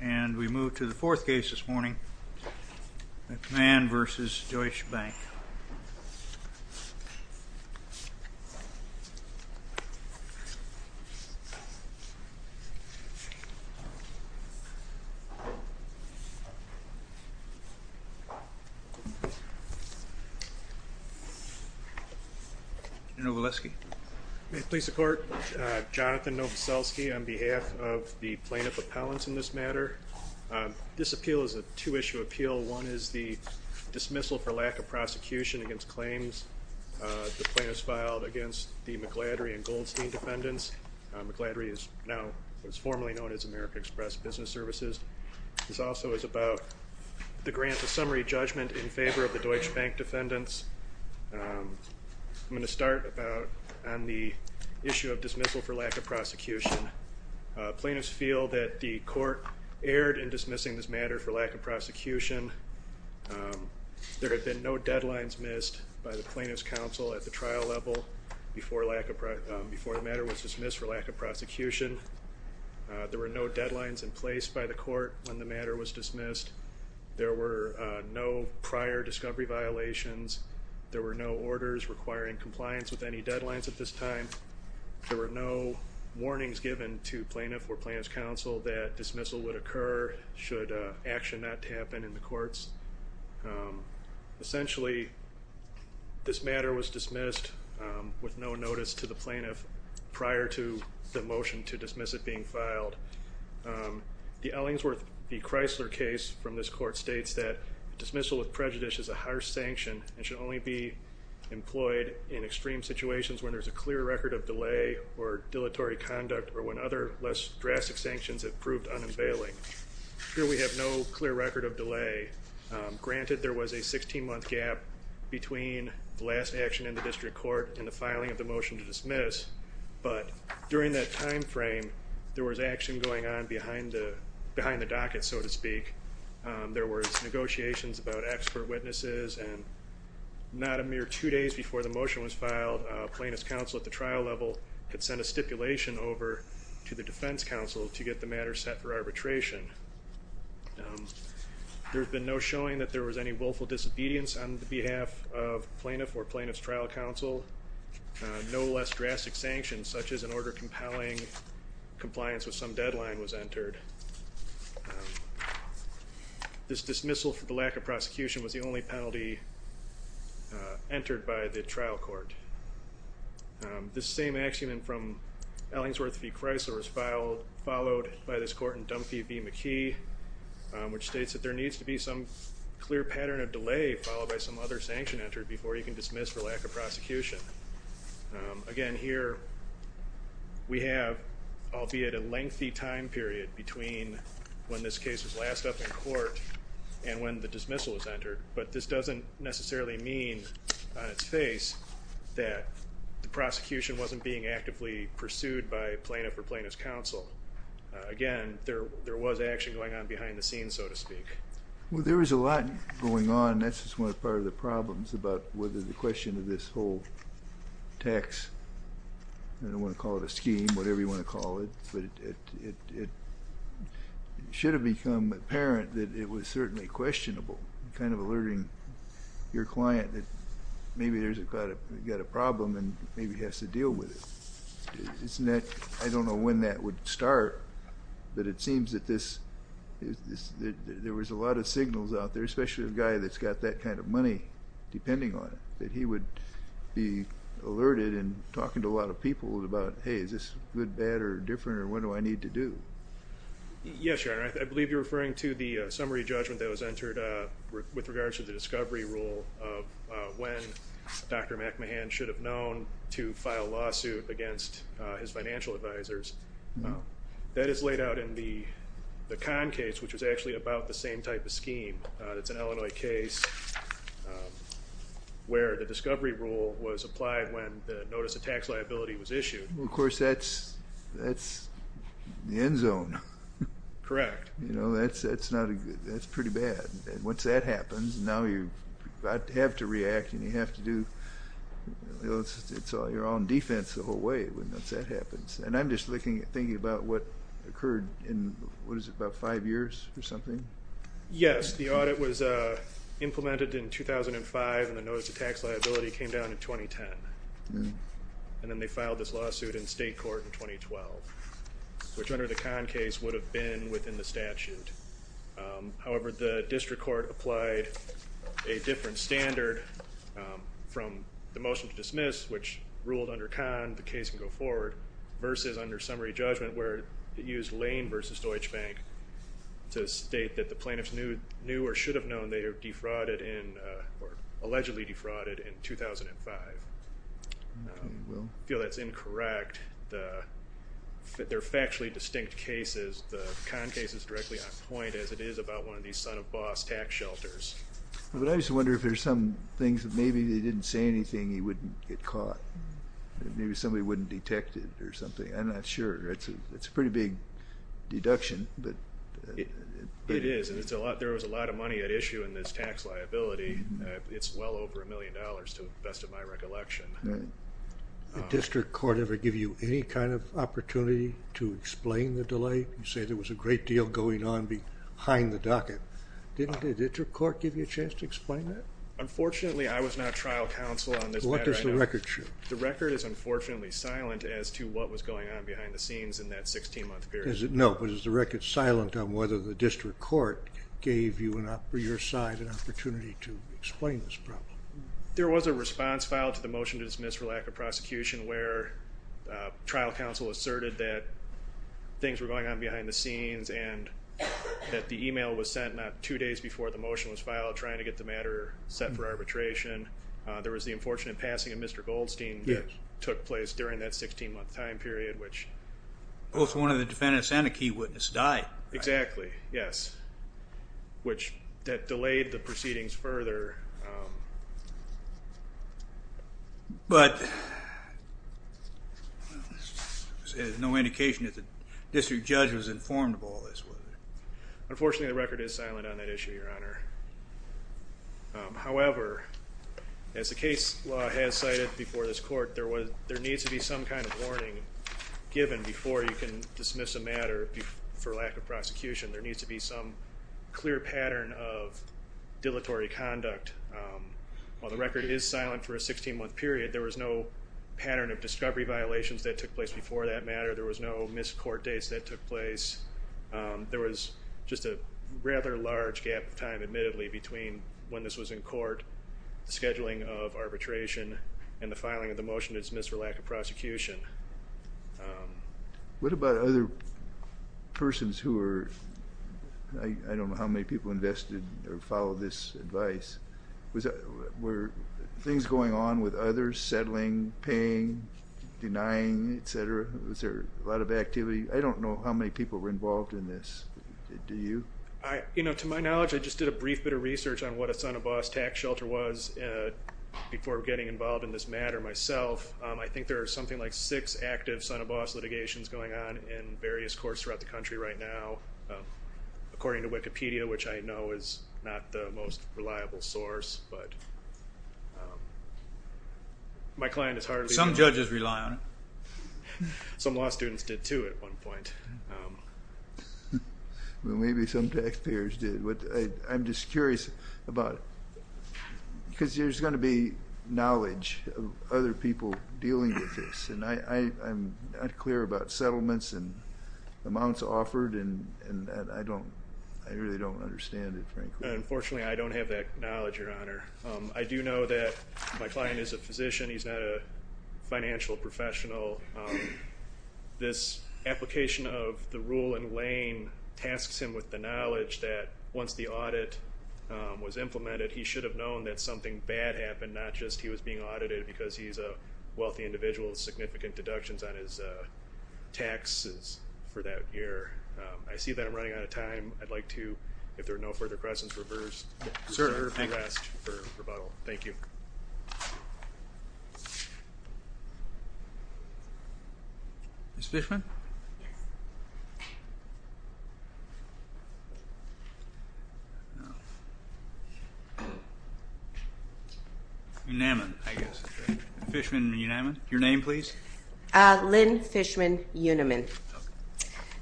And we move to the fourth case this morning, McMahan v. Deutsche Bank. Novoselsky. May it please the court, Jonathan Novoselsky on behalf of the plaintiff appellants in this matter. This appeal is a two-issue appeal. One is the dismissal for lack of prosecution against claims the plaintiffs filed against the McLadry and Goldstein defendants. McLadry is now formally known as American Express Business Services. This also is about the grant of summary judgment in favor of the Deutsche Bank defendants. I'm going to start on the issue of dismissal for lack of prosecution. Plaintiffs feel that the court erred in dismissing this matter for lack of prosecution. There had been no deadlines missed by the plaintiff's counsel at the trial level before the matter was dismissed for lack of prosecution. There were no deadlines in place by the court when the matter was dismissed. There were no prior discovery violations. There were no orders requiring compliance with any deadlines at this time. There were no warnings given to plaintiff or plaintiff's counsel that dismissal would occur should action not happen in the courts. Essentially, this matter was dismissed with no notice to the plaintiff prior to the motion to dismiss it being filed. The Ellingsworth v. Chrysler case from this court states that dismissal with prejudice is a harsh sanction and should only be employed in extreme situations when there is a clear record of delay or dilatory conduct or when other less drastic sanctions have proved unavailing. Here we have no clear record of delay. Granted, there was a 16-month gap between the last action in the district court and the filing of the motion to dismiss, but during that time frame, there was action going on behind the docket, so to speak. There were negotiations about expert witnesses, and not a mere two days before the motion was filed, plaintiff's counsel at the trial level had sent a stipulation over to the defense counsel to get the matter set for arbitration. There's been no showing that there was any willful disobedience on behalf of plaintiff or plaintiff's trial counsel. No less drastic sanctions, such as an order compelling compliance with some deadline, was entered. This dismissal for the lack of prosecution was the only penalty entered by the trial court. This same axiom from Ellingsworth v. Chrysler was followed by this court in Dunphy v. McKee, which states that there needs to be some clear pattern of delay followed by some other sanction entered before you can dismiss for lack of prosecution. Again, here we have albeit a lengthy time period between when this case was last up in court and when the dismissal was entered, but this doesn't necessarily mean on its face that the prosecution wasn't being actively pursued by plaintiff or plaintiff's counsel. Again, there was action going on behind the scenes, so to speak. Well, there was a lot going on, and that's just one part of the problems about whether the question of this whole tax, I don't want to call it a scheme, whatever you want to call it, but it should have become apparent that it was certainly questionable, kind of alerting your client that maybe there's got a problem and maybe has to deal with it. I don't know when that would start, but it seems that there was a lot of signals out there, especially a guy that's got that kind of money depending on it, that he would be alerted in talking to a lot of people about, hey, is this good, bad, or different, or what do I need to do? Yes, Your Honor. I believe you're referring to the summary judgment that was entered with regards to the discovery rule of when Dr. McMahon should have known to file a lawsuit against his financial advisors. That is laid out in the Kahn case, which was actually about the same type of scheme. It's an Illinois case where the discovery rule was applied when the notice of tax liability was issued. Well, of course, that's the end zone. Correct. That's pretty bad. Once that happens, now you have to react and you have to do your own defense the whole way once that happens. And I'm just thinking about what occurred in, what is it, about five years or something? Yes, the audit was implemented in 2005, and the notice of tax liability came down in 2010. And then they filed this lawsuit in state court in 2012, which under the Kahn case would have been within the statute. However, the district court applied a different standard from the motion to dismiss, which ruled under Kahn the case can go forward, versus under summary judgment, where it used Lane v. Deutsche Bank to state that the plaintiffs knew or should have known they were defrauded or allegedly defrauded in 2005. I feel that's incorrect. They're factually distinct cases. The Kahn case is directly on point, as it is about one of these son-of-a-boss tax shelters. But I just wonder if there's some things that maybe they didn't say anything, he wouldn't get caught. Maybe somebody wouldn't detect it or something. I'm not sure. It's a pretty big deduction. It is, and there was a lot of money at issue in this tax liability. It's well over a million dollars, to the best of my recollection. Did the district court ever give you any kind of opportunity to explain the delay? You say there was a great deal going on behind the docket. Did the district court give you a chance to explain that? Unfortunately, I was not trial counsel on this matter. What does the record show? The record is unfortunately silent as to what was going on behind the scenes in that 16-month period. No, but is the record silent on whether the district court gave you or your side an opportunity to explain this problem? There was a response filed to the motion to dismiss for lack of prosecution where trial counsel asserted that things were going on behind the scenes and that the email was sent not two days before the motion was filed trying to get the matter set for arbitration. There was the unfortunate passing of Mr. Goldstein that took place during that 16-month time period. Both one of the defendants and a key witness died. Exactly, yes. That delayed the proceedings further. But there's no indication that the district judge was informed of all this, was there? Unfortunately, the record is silent on that issue, Your Honor. However, as the case law has cited before this court, there needs to be some kind of warning given before you can dismiss a matter for lack of prosecution. There needs to be some clear pattern of dilatory conduct. While the record is silent for a 16-month period, there was no pattern of discovery violations that took place before that matter. There was no missed court dates that took place. There was just a rather large gap of time, admittedly, between when this was in court, the scheduling of arbitration, and the filing of the motion to dismiss for lack of prosecution. What about other persons who were, I don't know how many people invested or followed this advice? Were things going on with others, settling, paying, denying, etc.? Was there a lot of activity? I don't know how many people were involved in this. Do you? To my knowledge, I just did a brief bit of research on what a son of boss tax shelter was before getting involved in this matter myself. I think there are something like six active son of boss litigations going on in various courts throughout the country right now. According to Wikipedia, which I know is not the most reliable source, but my client is hardly— Some judges rely on it. Some law students did, too, at one point. Maybe some taxpayers did. I'm just curious about it because there's going to be knowledge of other people dealing with this. I'm not clear about settlements and amounts offered, and I really don't understand it, frankly. Unfortunately, I don't have that knowledge, Your Honor. I do know that my client is a physician. He's not a financial professional. This application of the rule in Lane tasks him with the knowledge that once the audit was implemented, he should have known that something bad happened, not just he was being audited because he's a wealthy individual with significant deductions on his taxes for that year. I see that I'm running out of time. I'd like to, if there are no further questions, reverse the order if you asked for rebuttal. Thank you. Ms. Fishman? Yes. Unaman, I guess. Fishman Unaman. Your name, please. Lynn Fishman Unaman.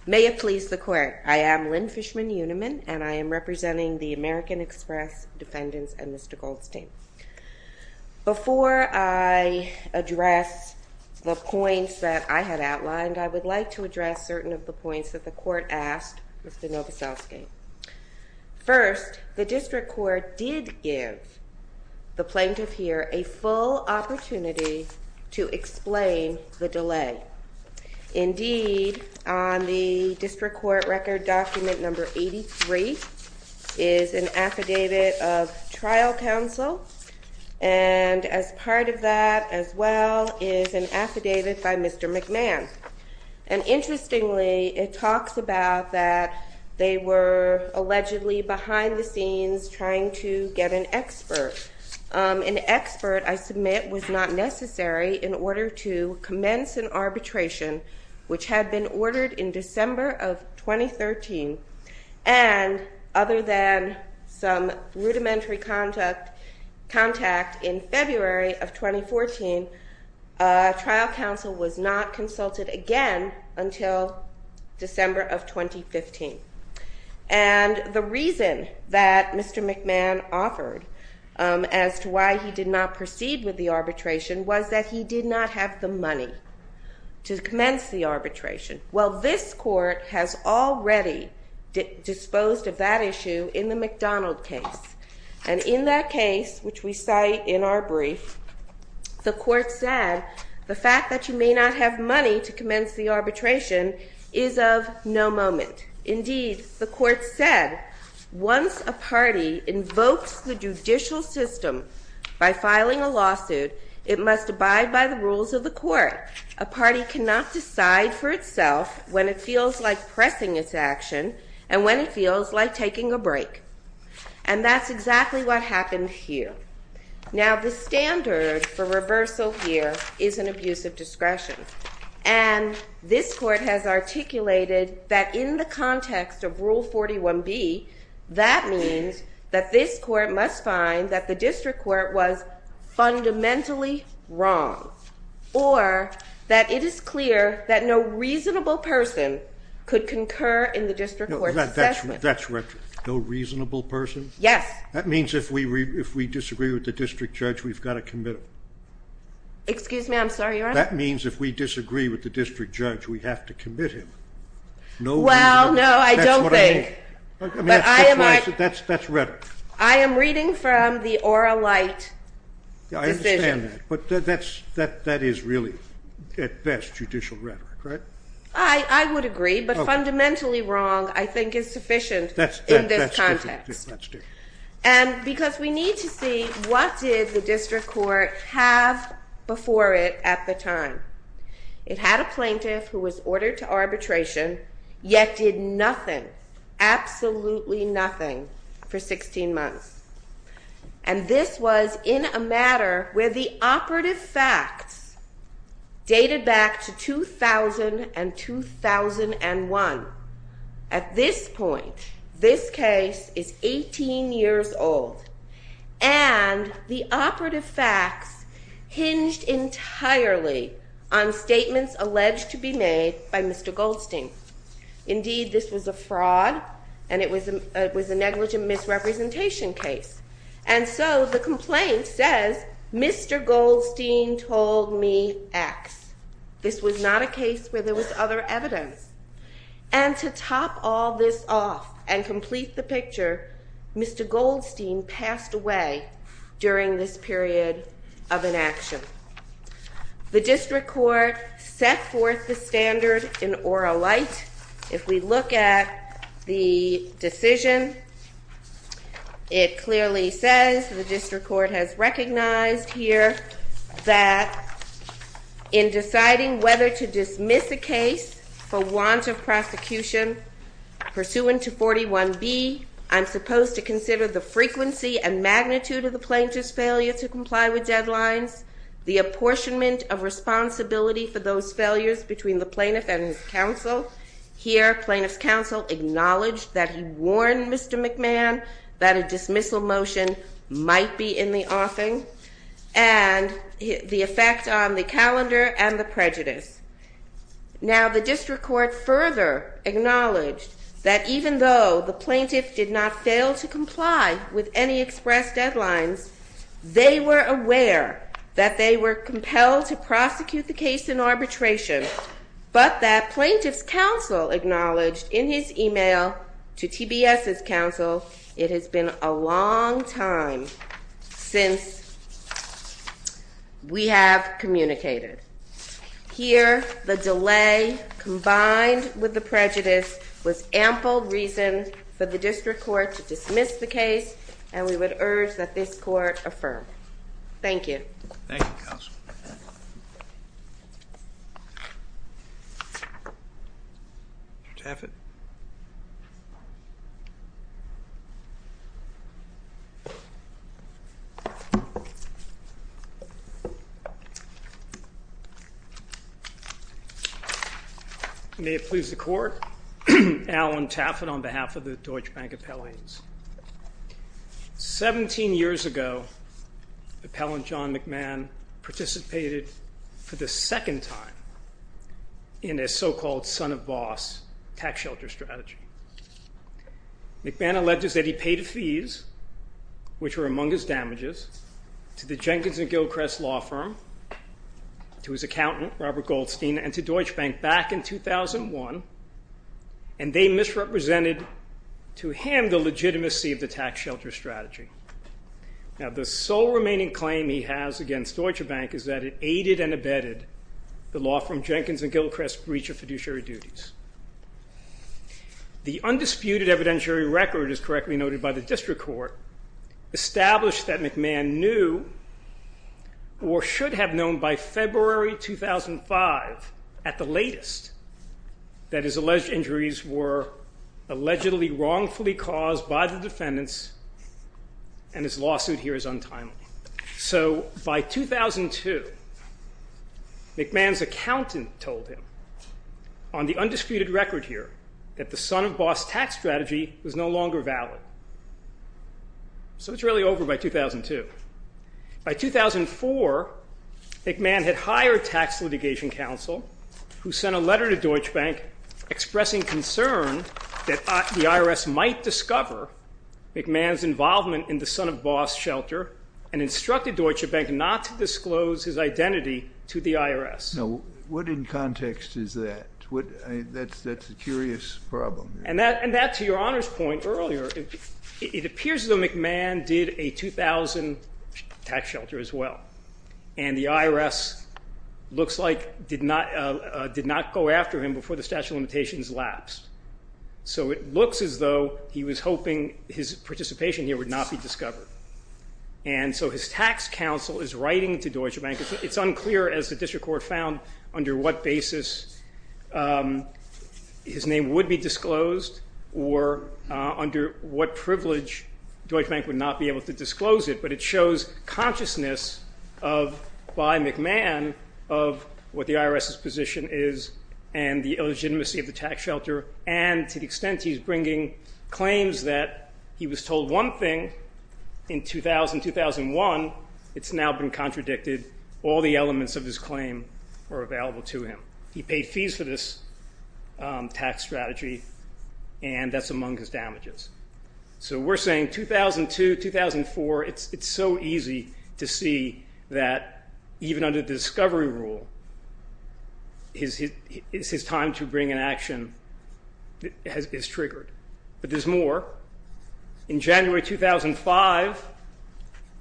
May it please the Court, I am Lynn Fishman Unaman, and I am representing the American Express defendants and Mr. Goldstein. Before I address the points that I had outlined, I would like to address certain of the points that the Court asked Mr. Novoselsky. First, the District Court did give the plaintiff here a full opportunity to explain the delay. Indeed, on the District Court record document number 83 is an affidavit of trial counsel, and as part of that as well is an affidavit by Mr. McMahon. And interestingly, it talks about that they were allegedly behind the scenes trying to get an expert. An expert, I submit, was not necessary in order to commence an arbitration, which had been ordered in December of 2013, and other than some rudimentary contact in February of 2014, trial counsel was not consulted again until December of 2015. And the reason that Mr. McMahon offered as to why he did not proceed with the arbitration was that he did not have the money to commence the arbitration. Well, this Court has already disposed of that issue in the McDonald case, and in that case, which we cite in our brief, the Court said the fact that you may not have money to commence the arbitration is of no moment. Indeed, the Court said once a party invokes the judicial system by filing a lawsuit, it must abide by the rules of the court. A party cannot decide for itself when it feels like pressing its action and when it feels like taking a break. And that's exactly what happened here. Now, the standard for reversal here is an abuse of discretion, and this Court has articulated that in the context of Rule 41B, that means that this Court must find that the district court was fundamentally wrong, or that it is clear that no reasonable person could concur in the district court's assessment. That's right. No reasonable person? Yes. That means if we disagree with the district judge, we've got to commit... Excuse me? I'm sorry, Your Honor? That means if we disagree with the district judge, we have to commit him. No reasonable person? Well, no, I don't think. That's what I mean. That's rhetoric. I am reading from the oral light decision. I understand that, but that is really, at best, judicial rhetoric, right? I would agree, but fundamentally wrong, I think, is sufficient in this context. That's different. Because we need to see what did the district court have before it at the time. It had a plaintiff who was ordered to arbitration, yet did nothing, absolutely nothing, for 16 months. And this was in a matter where the operative facts dated back to 2000 and 2001. At this point, this case is 18 years old. And the operative facts hinged entirely on statements alleged to be made by Mr. Goldstein. Indeed, this was a fraud, and it was a negligent misrepresentation case. And so the complaint says, Mr. Goldstein told me X. This was not a case where there was other evidence. And to top all this off and complete the picture, Mr. Goldstein passed away during this period of inaction. The district court set forth the standard in oral light. If we look at the decision, it clearly says the district court has recognized here that in deciding whether to dismiss a case for want of prosecution pursuant to 41B, I'm supposed to consider the frequency and magnitude of the plaintiff's failure to comply with deadlines, the apportionment of responsibility for those failures between the plaintiff and his counsel. Here, plaintiff's counsel acknowledged that he warned Mr. McMahon that a dismissal motion might be in the offing. And the effect on the calendar and the prejudice. Now, the district court further acknowledged that even though the plaintiff did not fail to comply with any express deadlines, they were aware that they were compelled to prosecute the case in arbitration, but that plaintiff's counsel acknowledged in his e-mail to TBS's counsel it has been a long time since we have communicated. Here, the delay combined with the prejudice was ample reason for the district court to dismiss the case, and we would urge that this court affirm. Thank you. Thank you, counsel. Mr. Taffet. May it please the court. Alan Taffet on behalf of the Deutsche Bank appellees. Seventeen years ago, appellant John McMahon participated for the second time in a so-called son-of-boss tax shelter strategy. McMahon alleged that he paid fees, which were among his damages, to the Jenkins and Gilchrist law firm, to his accountant, Robert Goldstein, and to Deutsche Bank back in 2001, and they misrepresented to him the legitimacy of the tax shelter strategy. Now, the sole remaining claim he has against Deutsche Bank is that it aided and abetted the law firm Jenkins and Gilchrist's breach of fiduciary duties. The undisputed evidentiary record, as correctly noted by the district court, established that McMahon knew, or should have known by February 2005 at the latest, that his alleged injuries were allegedly wrongfully caused by the defendants, and his lawsuit here is untimely. So by 2002, McMahon's accountant told him, on the undisputed record here, that the son-of-boss tax strategy was no longer valid. So it's really over by 2002. By 2004, McMahon had hired tax litigation counsel, who sent a letter to Deutsche Bank expressing concern that the IRS might discover McMahon's involvement in the son-of-boss shelter, and instructed Deutsche Bank not to disclose his identity to the IRS. No. What in context is that? That's a curious problem. And that, to your Honor's point earlier, it appears as though McMahon did a 2000 tax shelter as well, and the IRS looks like did not go after him before the statute of limitations lapsed. So it looks as though he was hoping his participation here would not be discovered. And so his tax counsel is writing to Deutsche Bank. It's unclear, as the district court found, under what basis his name would be disclosed or under what privilege Deutsche Bank would not be able to disclose it, but it shows consciousness by McMahon of what the IRS's position is and the illegitimacy of the tax shelter, and to the extent he's bringing claims that he was told one thing in 2000-2001, it's now been contradicted. All the elements of his claim are available to him. He paid fees for this tax strategy, and that's among his damages. So we're saying 2002-2004, it's so easy to see that even under the discovery rule, it's his time to bring an action that is triggered. But there's more. In January 2005,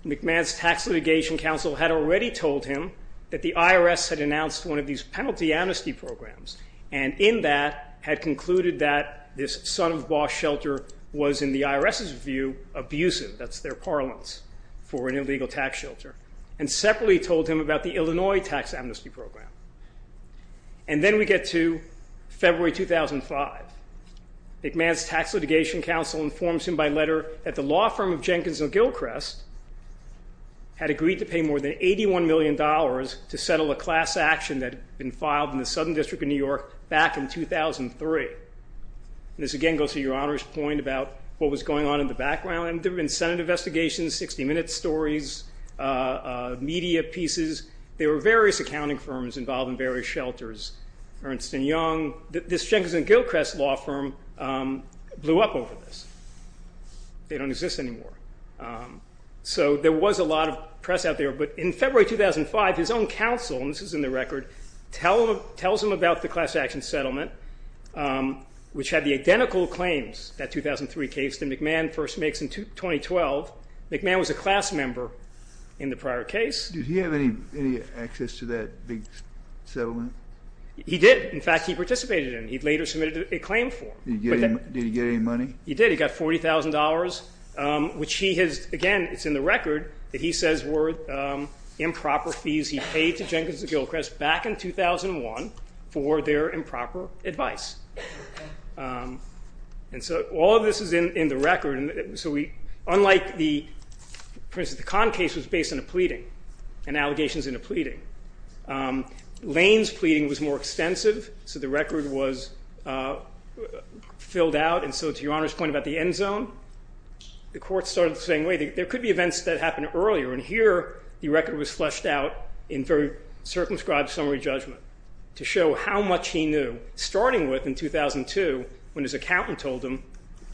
McMahon's tax litigation counsel had already told him that the IRS had announced one of these penalty amnesty programs, and in that had concluded that this son-of-a-boss shelter was, in the IRS's view, abusive. That's their parlance for an illegal tax shelter, and separately told him about the Illinois tax amnesty program. And then we get to February 2005. McMahon's tax litigation counsel informs him by letter that the law firm of Jenkins & Gilchrest had agreed to pay more than $81 million to settle a class action that had been filed in the Southern District of New York back in 2003. This again goes to Your Honor's point about what was going on in the background. There had been Senate investigations, 60-minute stories, media pieces. There were various accounting firms involved in various shelters. Ernst & Young, this Jenkins & Gilchrest law firm, blew up over this. They don't exist anymore. So there was a lot of press out there. But in February 2005, his own counsel, and this is in the record, tells him about the class action settlement, which had the identical claims, that 2003 case that McMahon first makes in 2012. McMahon was a class member in the prior case. Did he have any access to that big settlement? He did. In fact, he participated in it. He later submitted a claim form. Did he get any money? He did. He got $40,000, which he has, again, it's in the record, that he says were improper fees he paid to Jenkins & Gilchrest back in 2001 for their improper advice. And so all of this is in the record. Unlike the Prince of the Con case was based on a pleading and allegations in a pleading. Lane's pleading was more extensive, so the record was filled out. And so to Your Honor's point about the end zone, the court started the same way. There could be events that happened earlier, and here the record was fleshed out in very circumscribed summary judgment to show how much he knew, starting with in 2002 when his accountant told him,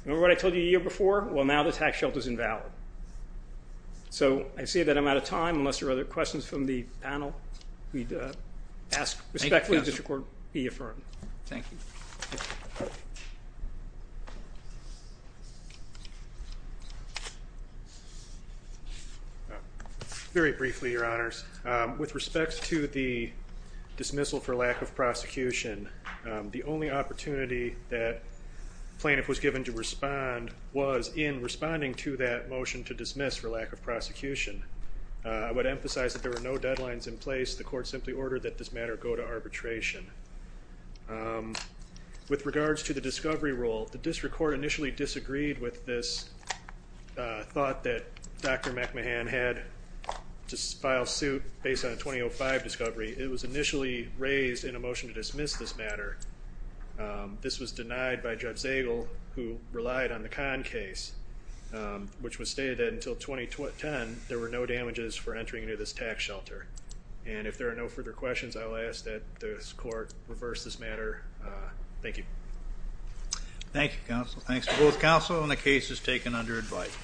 remember what I told you a year before? Well, now the tax shelter is invalid. So I say that I'm out of time unless there are other questions from the panel. We'd ask respectfully that the court be affirmed. Thank you. Very briefly, Your Honors, with respect to the dismissal for lack of prosecution, the only opportunity that plaintiff was given to respond was in responding to that motion to dismiss for lack of prosecution. I would emphasize that there were no deadlines in place. The court simply ordered that this matter go to arbitration. With regards to the discovery rule, the district court initially disagreed with this thought that Dr. McMahon had to file suit based on a 2005 discovery. It was initially raised in a motion to dismiss this matter. This was denied by Judge Zagel, who relied on the Kahn case, which was stated that until 2010, there were no damages for entering into this tax shelter. And if there are no further questions, I will ask that this court reverse this matter. Thank you. Thank you, counsel. Thanks to both counsel, and the case is taken under advice.